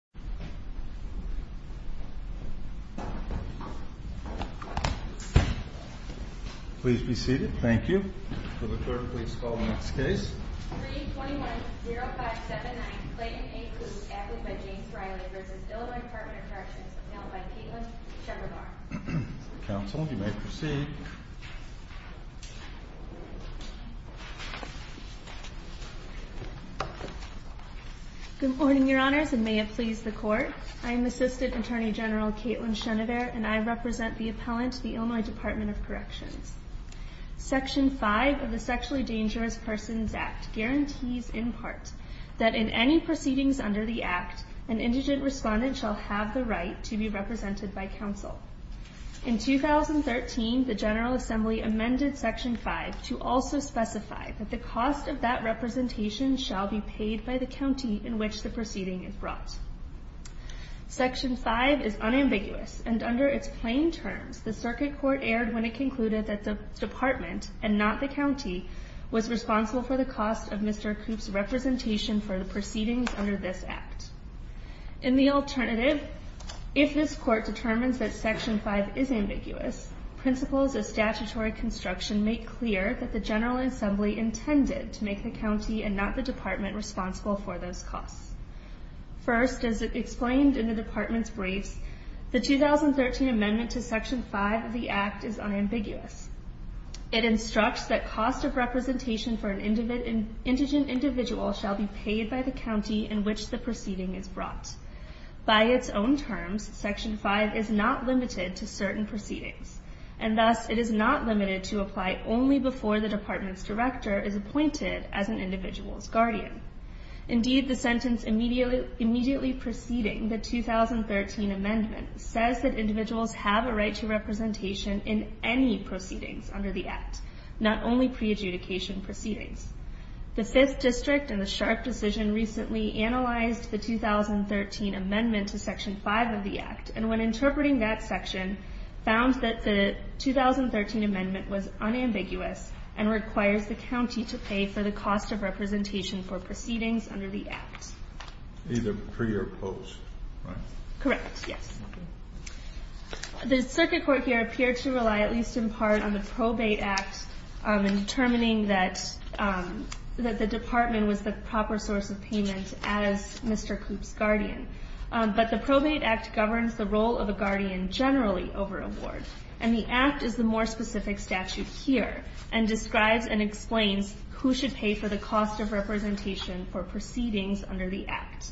321-0579 Clayton A. Coop v. IL Dept of Corrections Section 5 of the Sexually Dangerous Persons Act guarantees, in part, that in any proceedings under the Act, an indigent respondent shall have the right to be represented by counsel. In 2013, the General Assembly amended Section 5 to also specify that the cost of that representation shall be paid by the county in which the proceeding is brought. Section 5 is unambiguous, and under its plain terms, the Circuit Court erred when it concluded that the department, and not the county, was responsible for the cost of Mr. Coop's representation for the proceedings under this Act. In the alternative, if this Court determines that Section 5 is ambiguous, principles of statutory construction make clear that the General Assembly intended to make the county and not the department responsible for those costs. First, as explained in the department's briefs, the 2013 amendment to Section 5 of the Act is unambiguous. It instructs that cost of representation for an indigent individual shall be paid by the county in which the proceeding is brought. By its own terms, Section 5 is not limited to certain proceedings, and thus it is not is appointed as an individual's guardian. Indeed, the sentence immediately preceding the 2013 amendment says that individuals have a right to representation in any proceedings under the Act, not only pre-adjudication proceedings. The Fifth District and the Sharpe decision recently analyzed the 2013 amendment to Section 5 of the Act, and when interpreting that section, found that the 2013 amendment was unambiguous and requires the county to pay for the cost of representation for proceedings under the Act. Either pre or post, right? Correct, yes. The Circuit Court here appeared to rely at least in part on the Probate Act in determining that the department was the proper source of payment as Mr. Koop's guardian. But the Probate Act governs the role of a guardian generally over a ward, and the Act is the more specific statute here, and describes and explains who should pay for the cost of representation for proceedings under the Act.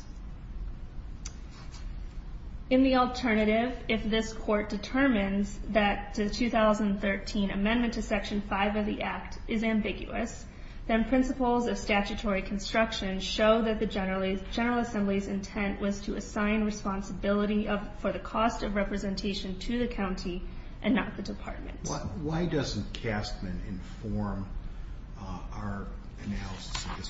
In the alternative, if this Court determines that the 2013 amendment to Section 5 of the Act is ambiguous, then principles of statutory construction show that the General Assembly's intent was to assign responsibility for the cost of representation to the county and not the department. Why doesn't Castman inform our analysis of this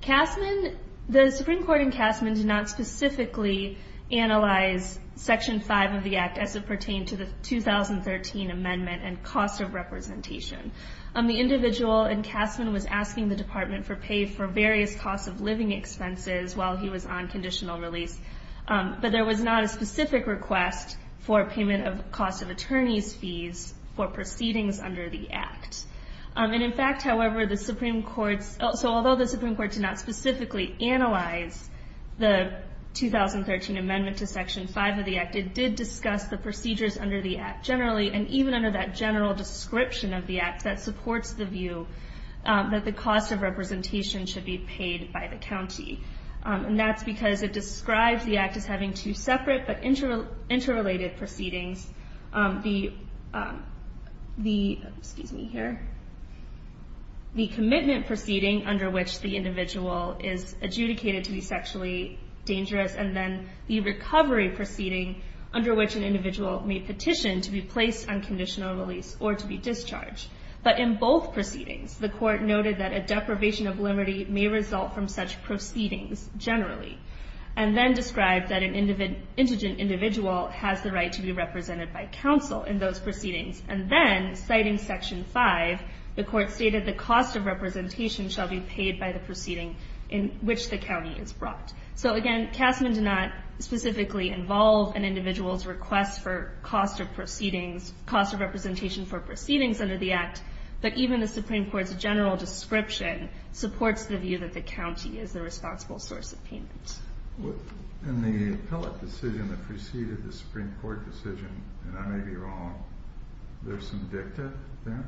question? The Supreme Court in Castman did not specifically analyze Section 5 of the Act as it pertained to the 2013 amendment and cost of representation. The individual in Castman was asking the department to pay for various costs of living expenses while he was on conditional release, but there was not a specific request for payment of the cost of attorney's fees for proceedings under the Act. In fact, however, although the Supreme Court did not specifically analyze the 2013 amendment to Section 5 of the Act, it did discuss the procedures under the Act generally, and even under that general description of the Act that supports the view that the cost of representation should be paid by the county. That's because it describes the Act as having two separate but interrelated proceedings, the commitment proceeding under which the individual is adjudicated to be sexually dangerous, and then the recovery proceeding under which an individual may petition to be placed on conditional release or to be discharged. But in both proceedings, the Court noted that a deprivation of liberty may result from such proceedings generally, and then described that an indigent individual has the right to be represented by counsel in those proceedings, and then, citing Section 5, the Court stated the cost of representation shall be paid by the proceeding in which the county is brought. So again, Castman did not specifically involve an individual's request for cost of representation for proceedings under the Act, but even the Supreme Court's general description supports the view that the county is the responsible source of payment. In the appellate decision that preceded the Supreme Court decision, and I may be wrong, there's some dicta there?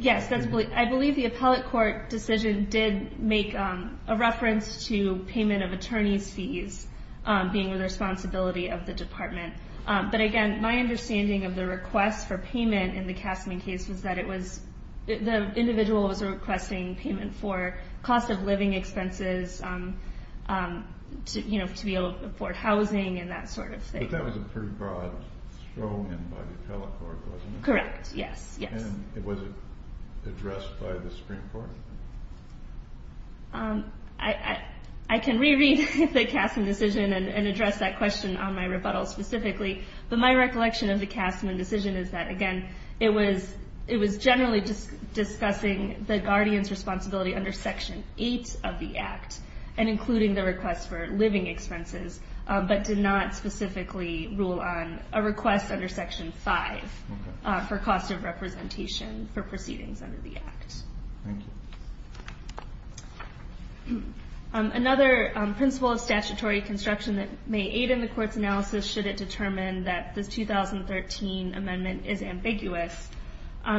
Yes. I believe the appellate court decision did make a reference to payment of attorney's fees being the responsibility of the Department. But again, my understanding of the request for payment in the Castman case was that it was a payment for cost of living expenses, to be able to afford housing, and that sort of thing. But that was a pretty broad throw-in by the appellate court, wasn't it? Correct, yes. And was it addressed by the Supreme Court? I can reread the Castman decision and address that question on my rebuttal specifically, but my recollection of the Castman decision is that, again, it was generally discussing the guardian's responsibility under Section 8 of the Act, and including the request for living expenses, but did not specifically rule on a request under Section 5 for cost of representation for proceedings under the Act. Thank you. Another principle of statutory construction that may aid in the Court's analysis should determine that the 2013 Amendment is ambiguous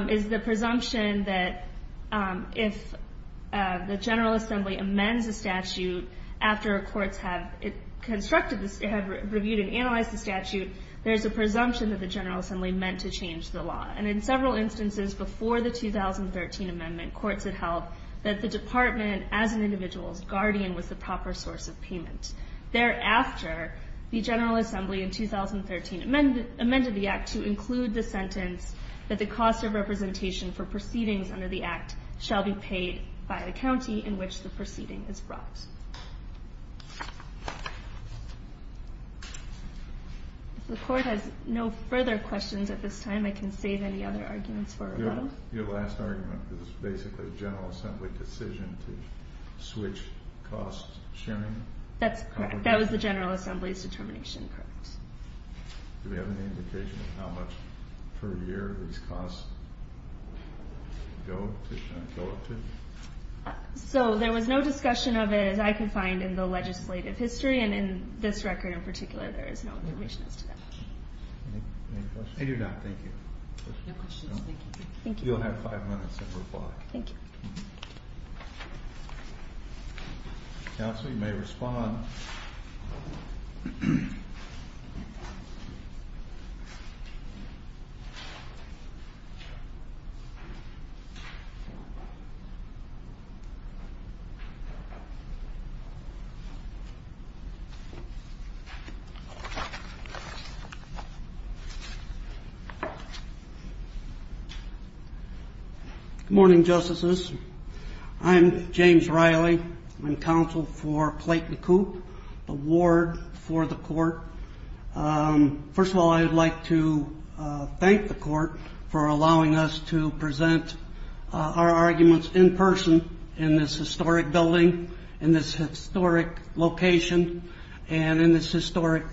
is the presumption that if the General Assembly amends a statute after courts have constructed this, have reviewed and analyzed the statute, there's a presumption that the General Assembly meant to change the law. And in several instances before the 2013 Amendment, courts had held that the Department, as an individual's guardian, was the proper source of payment. Thereafter, the General Assembly, in 2013, amended the Act to include the sentence that the cost of representation for proceedings under the Act shall be paid by the county in which the proceeding is brought. If the Court has no further questions at this time, I can save any other arguments for our panel. Your last argument is basically a General Assembly decision to switch cost sharing? That's correct. That was the General Assembly's determination. Correct. Do we have any indication of how much per year these costs go up to? So, there was no discussion of it, as I can find, in the legislative history, and in this record in particular, there is no information as to that. Any questions? I do not. Thank you. No questions. Thank you. You'll have five minutes to reply. Thank you. Counsel, you may respond. Good morning, Justices. I'm James Riley. I'm counsel for Clayton Coop, the ward for the Court. First of all, I would like to thank the Court for allowing us to present our arguments in person in this historic building, in this historic location, and in this historic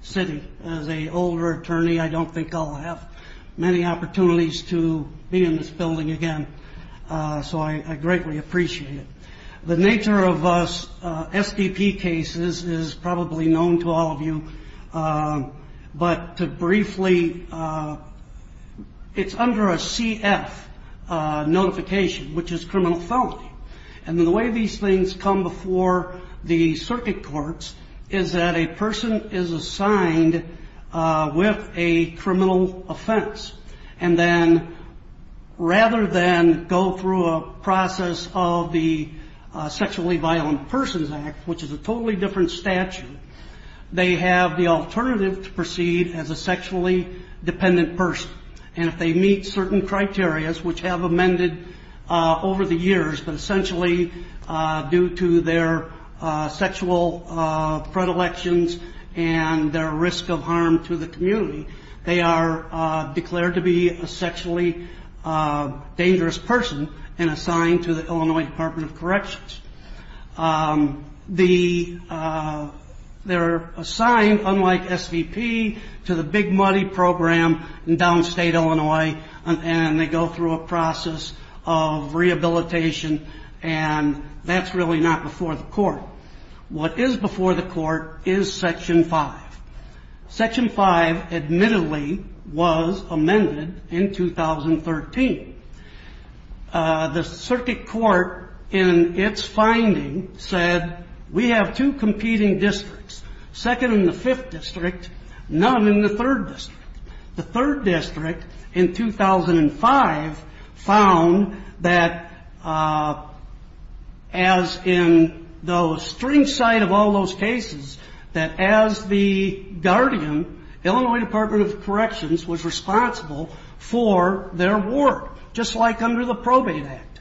city. As an older attorney, I don't think I'll have many opportunities to be in this building again, so I greatly appreciate it. The nature of SBP cases is probably known to all of you, but to briefly, it's under a CF notification, which is criminal felony. And the way these things come before the circuit courts is that a person is assigned with a to proceed as a sexually dependent person. Rather than go through a process of the Sexually Violent Persons Act, which is a totally different statute, they have the alternative to proceed as a sexually dependent person. And if they meet certain criterias, which have amended over the years, but essentially due to their sexual predilections and their risk of harm to the community, they are declared to be a sexually dangerous person and assigned to the Illinois Department of Corrections. They're assigned, unlike SBP, to the Big Muddy Program in downstate Illinois, and they go through a process of rehabilitation, and that's really not before the Court. What is before the Court is Section 5. Section 5, admittedly, was amended in 2013. The circuit court, in its finding, said, we have two competing districts, second in the Fifth District, none in the Third District. The Third District, in 2005, found that, as in the strange side of all those cases, that as the guardian, Illinois Department of Corrections was responsible for their work, just like under the Probate Act.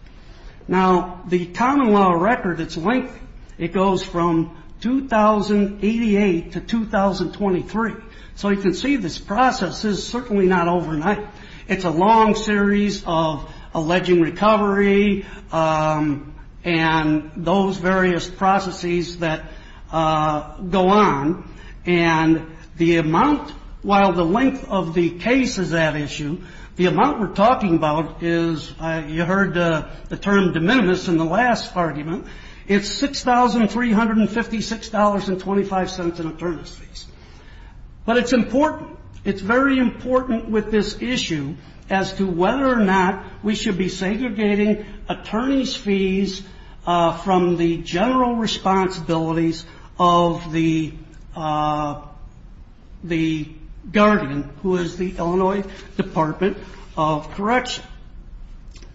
Now, the common law record, it's lengthy. It goes from 2088 to 2023, so you can see this process is certainly not overnight. It's a long series of alleged recovery and those various processes that go on, and the amount, while the length of the case is at issue, the amount we're talking about is, you heard the term de minimis in the last argument, it's $6,356.25 in attorneys' fees. But it's important. It's very important with this issue as to whether or not we should be segregating attorneys' fees from the general responsibilities of the guardian, who is the Illinois Department of Corrections.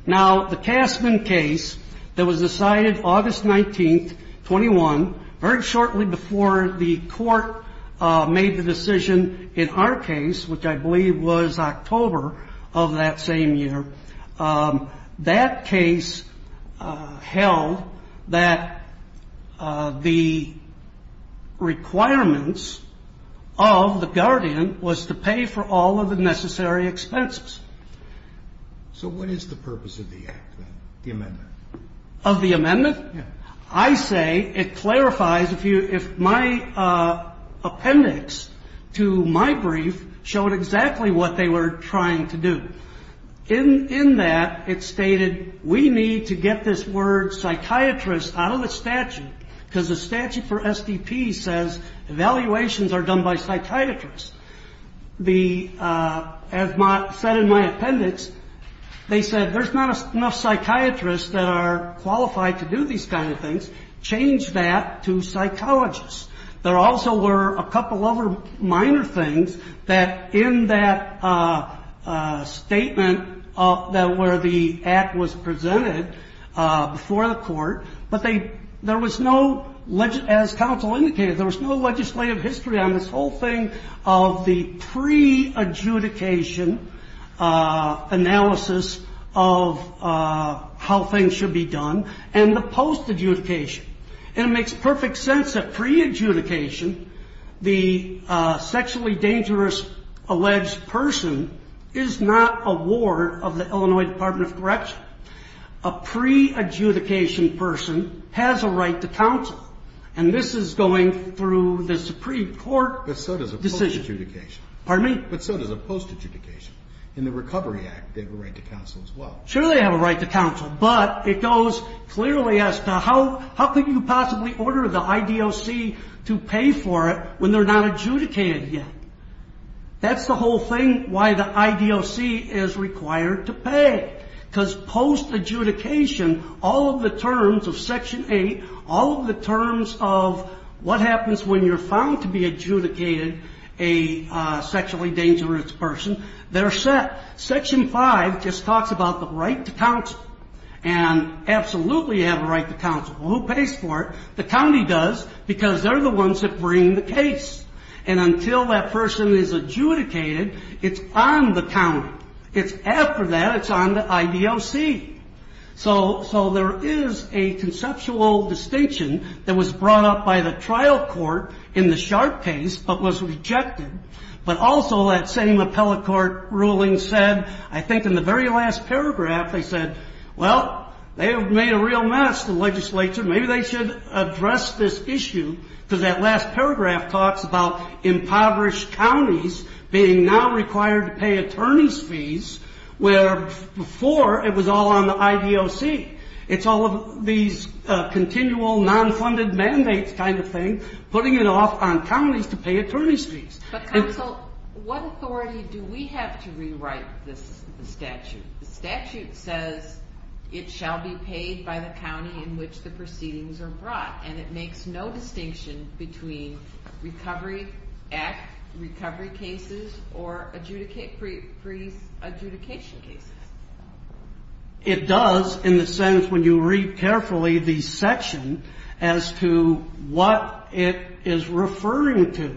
Now, the Castman case that was decided August 19, 21, very shortly before the Court made the decision in our case, which I believe was October of that same year, that case held that the requirements of the guardian was to pay for all of the necessary expenses. So what is the purpose of the act then, the amendment? Of the amendment? Yeah. I say it clarifies if my appendix to my brief showed exactly what they were trying to do. In that, it stated we need to get this word psychiatrist out of the statute because the statute for SDP says evaluations are done by psychiatrists. As said in my appendix, they said there's not enough psychiatrists that are qualified to do these kind of things. Change that to psychologists. There also were a couple other minor things that in that statement where the act was presented before the Court, but there was no, as counsel indicated, there was no pre-adjudication analysis of how things should be done and the post-adjudication. And it makes perfect sense that pre-adjudication, the sexually dangerous alleged person, is not a ward of the Illinois Department of Correction. A pre-adjudication person has a right to counsel. And this is going through the Supreme Court decision. Post-adjudication. Pardon me? But so does a post-adjudication. In the Recovery Act, they have a right to counsel as well. Sure they have a right to counsel, but it goes clearly as to how could you possibly order the IDOC to pay for it when they're not adjudicated yet? That's the whole thing why the IDOC is required to pay. Because post-adjudication, all of the terms of Section 8, all of the terms of what a sexually dangerous person, they're set. Section 5 just talks about the right to counsel and absolutely have a right to counsel. Who pays for it? The county does because they're the ones that bring the case. And until that person is adjudicated, it's on the county. It's after that, it's on the IDOC. So there is a conceptual distinction that was brought up by the trial court in the case that was rejected. But also that same appellate court ruling said, I think in the very last paragraph, they said, well, they have made a real mess, the legislature, maybe they should address this issue. Because that last paragraph talks about impoverished counties being now required to pay attorney's fees, where before it was all on the IDOC. It's all of these continual non-funded mandates kind of thing, putting it off on counties to pay attorney's fees. But counsel, what authority do we have to rewrite this statute? The statute says it shall be paid by the county in which the proceedings are brought. And it makes no distinction between recovery act, recovery cases, or pre-adjudication cases. It does, in the sense when you read carefully the section, as to what it is referring to.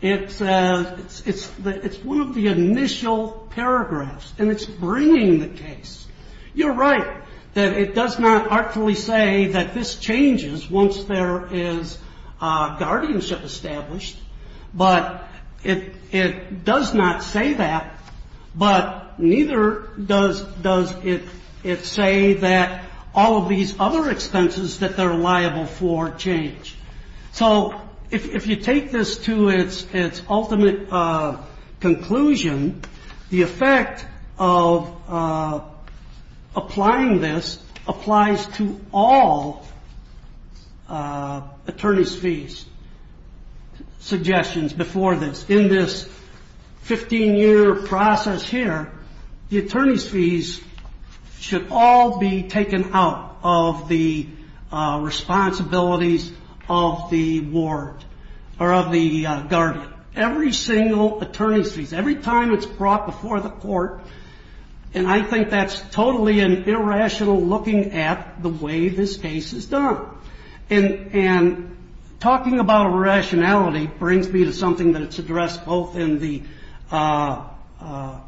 It's one of the initial paragraphs. And it's bringing the case. You're right that it does not artfully say that this changes once there is guardianship established. But it does not say that, but neither does it say that all of these other expenses that they're liable for change. So if you take this to its ultimate conclusion, the effect of applying this applies to all attorney's fees. Suggestions before this. In this 15-year process here, the attorney's fees should all be taken out of the responsibilities of the ward, or of the guardian. Every single attorney's fees. Every time it's brought before the court. And I think that's totally an irrational looking at the way this case is done. And talking about irrationality brings me to something that's addressed both in the appellant's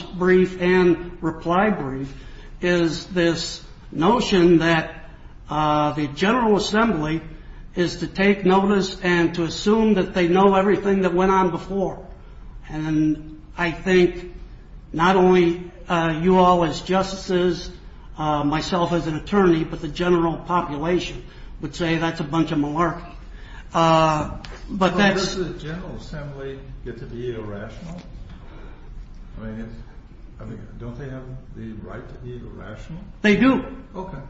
brief and reply brief. Is this notion that the General Assembly is to take notice and to assume that they know everything that went on before. And I think not only you all as justices, myself as an attorney, but the general population would say that's a bunch of malarkey. Does the General Assembly get to be irrational? Don't they have the right to be irrational? They do.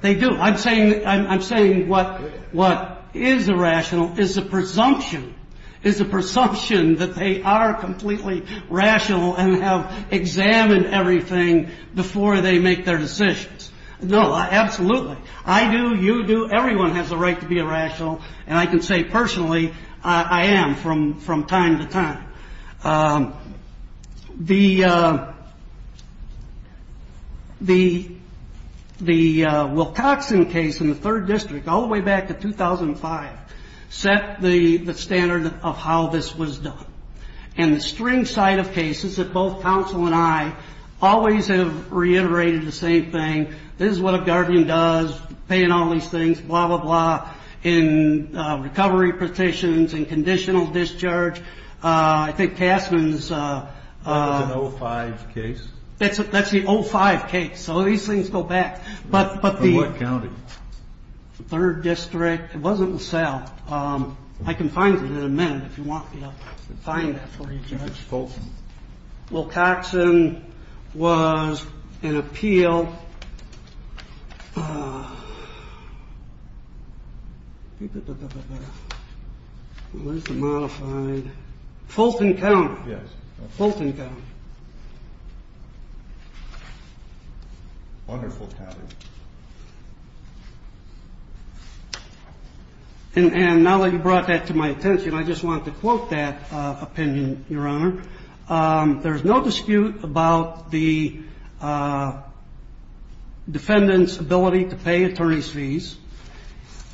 They do. I'm saying what is irrational is a presumption. Is a presumption that they are completely rational and have examined everything before they make their decisions. No, absolutely. I do. You do. Everyone has a right to be irrational. And I can say personally, I am from time to time. The Wilcoxon case in the third district all the way back to 2005 set the standard of how this was done. And the string side of cases that both counsel and I always have reiterated the same thing. This is what a guardian does, paying all these things, blah, blah, blah. In recovery petitions, in conditional discharge. I think Casman's. That was an 05 case? That's the 05 case. So these things go back. From what county? Third district. It wasn't LaSalle. I can find it in a minute if you want me to find that for you, Judge. Wilcoxon was an appeal. Now, what is the modified? Fulton County. Yes. Fulton County. Under Fulton County. And now that you brought that to my attention, I just want to quote that opinion, Your Honor. There's no dispute about the defendant's ability to pay attorney's fees.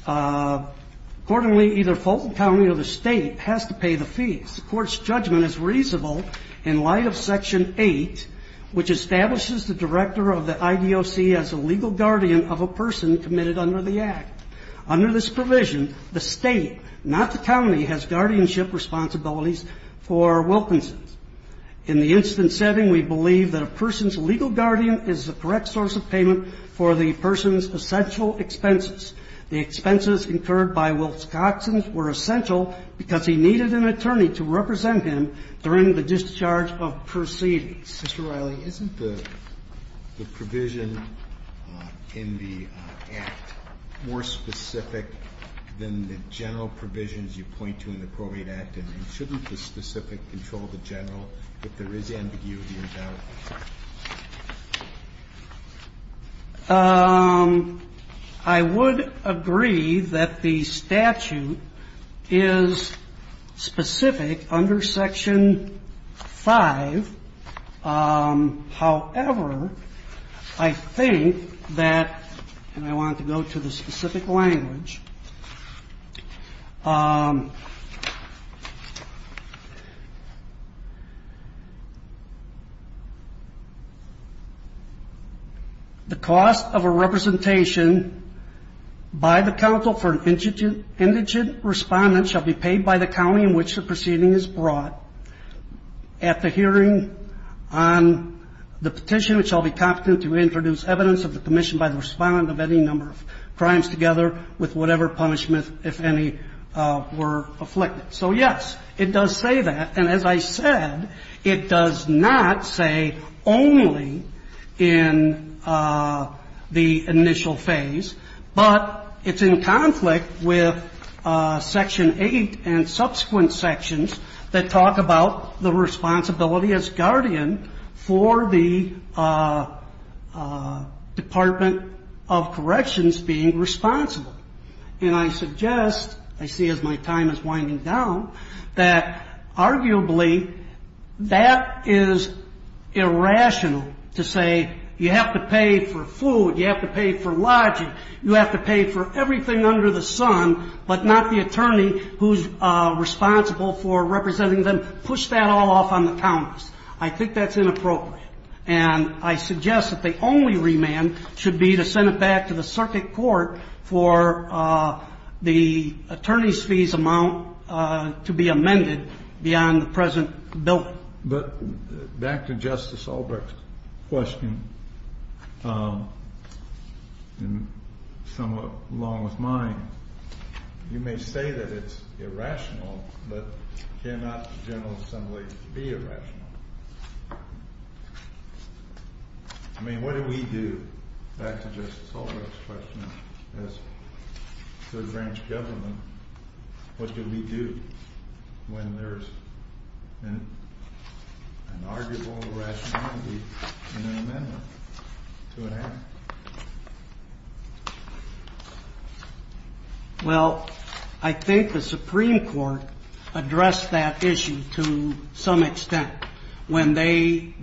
Accordingly, either Fulton County or the state has to pay the fees. The court's judgment is reasonable in light of Section 8, which establishes the director of the IDOC as a legal guardian of a person committed under the Act. Under this provision, the state, not the county, has guardianship responsibilities for Wilkinson's. In the instance setting, we believe that a person's legal guardian is the correct source of payment for the person's essential expenses. The expenses incurred by Wilcoxon's were essential because he needed an attorney to represent him during the discharge of proceedings. Mr. Riley, isn't the provision in the Act more specific than the general provisions you point to in the probate Act? And shouldn't the specific control the general if there is ambiguity about it? I would agree that the statute is specific under Section 5. However, I think that, and I want to go to the specific language. The cost of a representation by the counsel for an indigent respondent shall be paid by the county in which the proceeding is brought at the hearing on the petition, which shall be competent to introduce evidence of the commission by the respondent of any number of crimes together with whatever punishment, if any, were afflicted. So yes, it does say that. And as I said, it does not say only in the initial phase. But it's in conflict with Section 8 and subsequent sections that talk about the responsibility as guardian for the Department of Corrections being responsible. And I suggest, I see as my time is winding down, that arguably that is irrational to say you have to pay for food, you have to pay for lodging, you have to pay for everything under the sun, but not the attorney who's responsible for representing them. Push that all off on the counties. I think that's inappropriate. And I suggest that the only remand should be to send it back to the circuit court for the attorney's fees amount to be amended beyond the present building. But back to Justice Albrecht's question, and somewhat along with mine, you may say that it's irrational, but cannot the General Assembly be irrational? I mean, what do we do, back to Justice Albrecht's question, as Third Branch government, what do we do when there's an arguable irrationality in an amendment to an act? Well, I think the Supreme Court addressed that issue to some extent when they,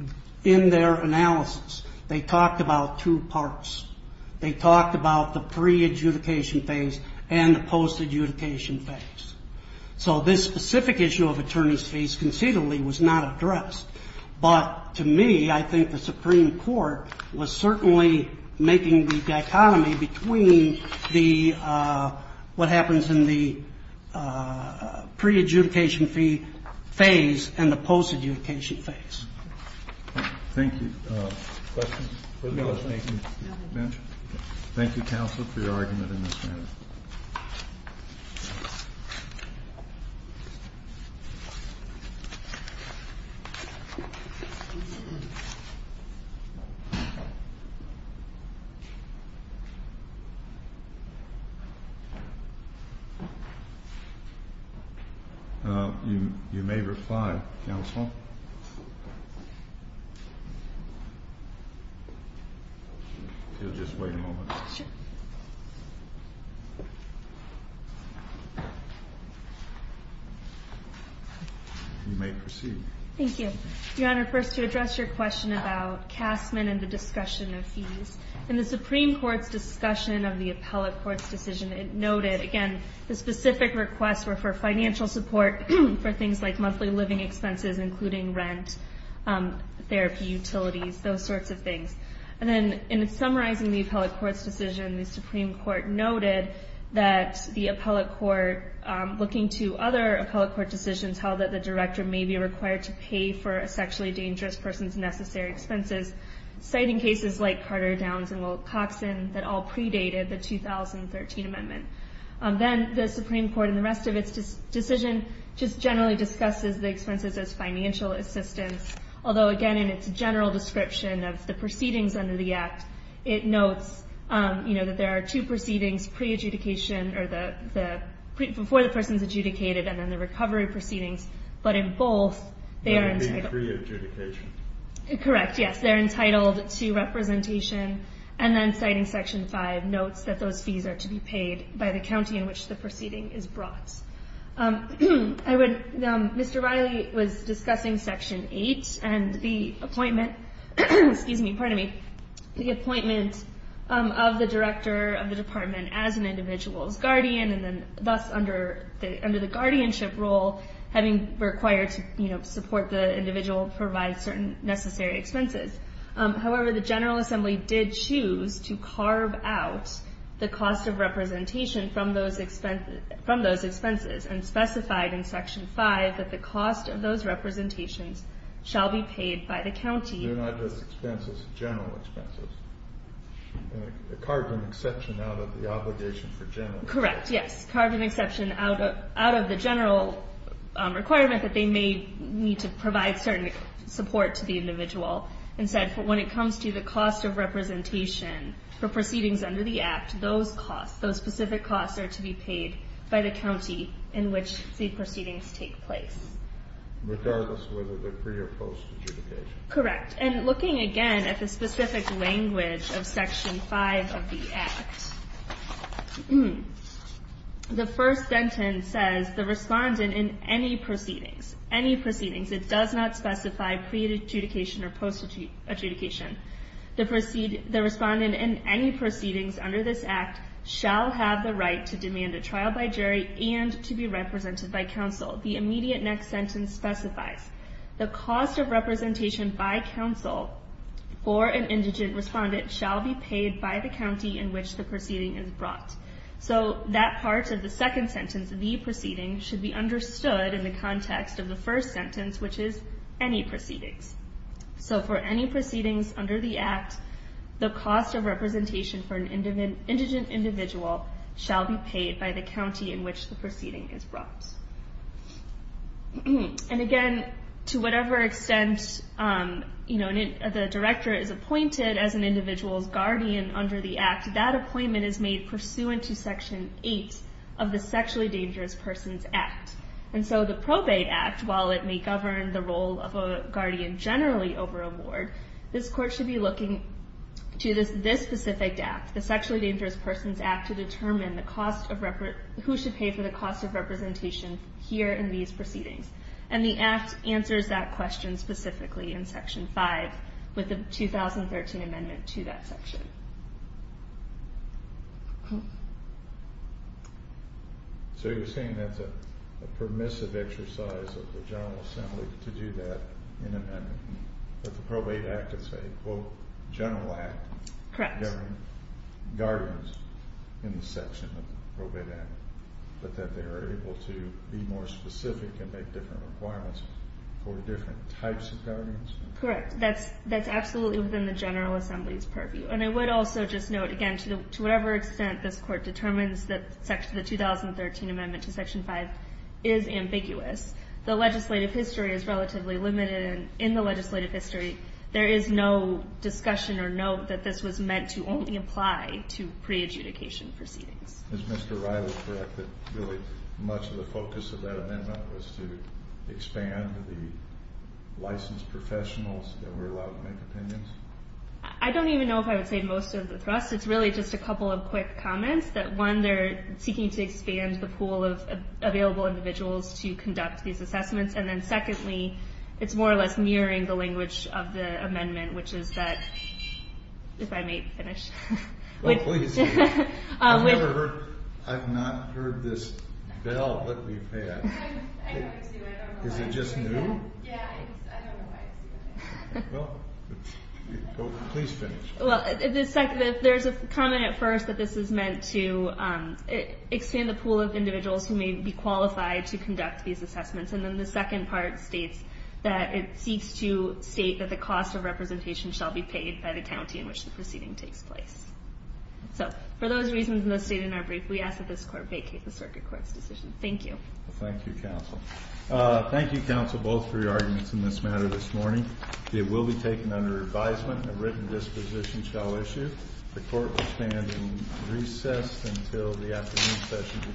in their analysis, they talked about two parts. They talked about the pre-adjudication phase and the post-adjudication phase. So this specific issue of attorney's fees conceivably was not addressed. But to me, I think the Supreme Court was certainly making the dichotomy between what happens in the pre-adjudication phase and the post-adjudication phase. Thank you. Thank you, counsel, for your argument in this matter. Thank you. You may reply, counsel. If you'll just wait a moment. Sure. You may proceed. Thank you. Your Honor, first to address your question about Castman and the discussion of fees. In the Supreme Court's discussion of the appellate court's decision, it noted, again, the specific requests were for financial support for things like monthly living expenses, including rent, therapy, utilities, those sorts of things. And then in summarizing the appellate court's decision, the Supreme Court noted that the appellate court, looking to other appellate court decisions, held that the director may be required to pay for a sexually dangerous person's necessary expenses, citing cases like Carter, Downs, and Wilcoxon that all predated the 2013 amendment. Then the Supreme Court, in the rest of its decision, just generally discusses the expenses as financial assistance, although, again, in its general description of the proceedings under the Act, it notes that there are two proceedings, pre-adjudication, or before the person's adjudicated, and then the recovery proceedings. But in both, they are entitled to representation. Correct, yes, they're entitled to representation. And then citing Section 5 notes that those fees are to be paid by the county in which the proceeding is brought. Mr. Riley was discussing Section 8, and the appointment of the director of the department as an individual's guardian, and thus under the guardianship role, having required to support the individual provide certain necessary expenses. However, the General Assembly did choose to carve out the cost of representation from those expenses, and specified in Section 5 that the cost of those representations shall be paid by the county. They're not just expenses, general expenses. They carved an exception out of the obligation for general. Correct, yes, carved an exception out of the general requirement that they may need to provide certain support to the individual. Instead, when it comes to the cost of representation for proceedings under the Act, those costs, those specific costs are to be paid by the county in which the proceedings take place. Regardless of whether they're pre- or post-adjudication. Correct, and looking again at the specific language of Section 5 of the Act, the first sentence says the respondent in any proceedings, any proceedings, it does not specify pre-adjudication or post-adjudication, the respondent in any proceedings under this Act shall have the right to demand a trial by jury and to be represented by counsel. The immediate next sentence specifies the cost of representation by counsel for an indigent respondent shall be paid by the county in which the proceeding is brought. So that part of the second sentence, the proceedings, should be understood in the context of the first sentence which is any proceedings. So for any proceedings under the Act, the cost of representation for an indigent individual shall be paid by the county in which the proceeding is brought. And again, to whatever extent the director is appointed as an individual's guardian under the Act, that appointment is made pursuant to Section 8 of the Sexually Dangerous Persons Act. And so the Probate Act, while it may govern the role of a guardian generally over a ward, this Court should be looking to this specific Act, the Sexually Dangerous Persons Act, to determine who should pay for the cost of representation here in these proceedings. And the Act answers that question specifically in Section 5 with the 2013 amendment to that section. So you're saying that's a permissive exercise of the General Assembly to do that in an amendment. But the Probate Act is a, quote, general act. Correct. Governing guardians in the section of the Probate Act. But that they are able to be more specific and make different requirements for different types of guardians? Correct. That's absolutely within the General Assembly's purview. And I would also just note, again, to whatever extent this Court determines that the 2013 amendment to Section 5 is ambiguous, the legislative history is relatively limited and in the legislative history there is no discussion or note that this was meant to only apply to pre-adjudication proceedings. Is Mr. Riley correct that really much of the focus of that amendment was to expand the licensed professionals that were allowed to make opinions? I don't even know if I would say most of the thrust. It's really just a couple of quick comments that, one, they're seeking to expand the pool of available individuals to conduct these assessments. And then, secondly, it's more or less mirroring the language of the amendment, which is that... If I may finish. Oh, please. I've never heard... I've not heard this bell that we've had. I know it's you. I don't know why it's you. Is it just new? Yeah, I don't know why it's you. Well, please finish. Well, there's a comment at first that this is meant to expand the pool of individuals who may be qualified to conduct these assessments. And then the second part states that it seeks to state that the cost of representation shall be paid by the county in which the proceeding takes place. So, for those reasons in the state in our brief, we ask that this court vacate the circuit court's decision. Thank you. Thank you, counsel. Thank you, counsel, both for your arguments in this matter this morning. It will be taken under advisement and a written disposition shall issue. The court will stand in recess until the afternoon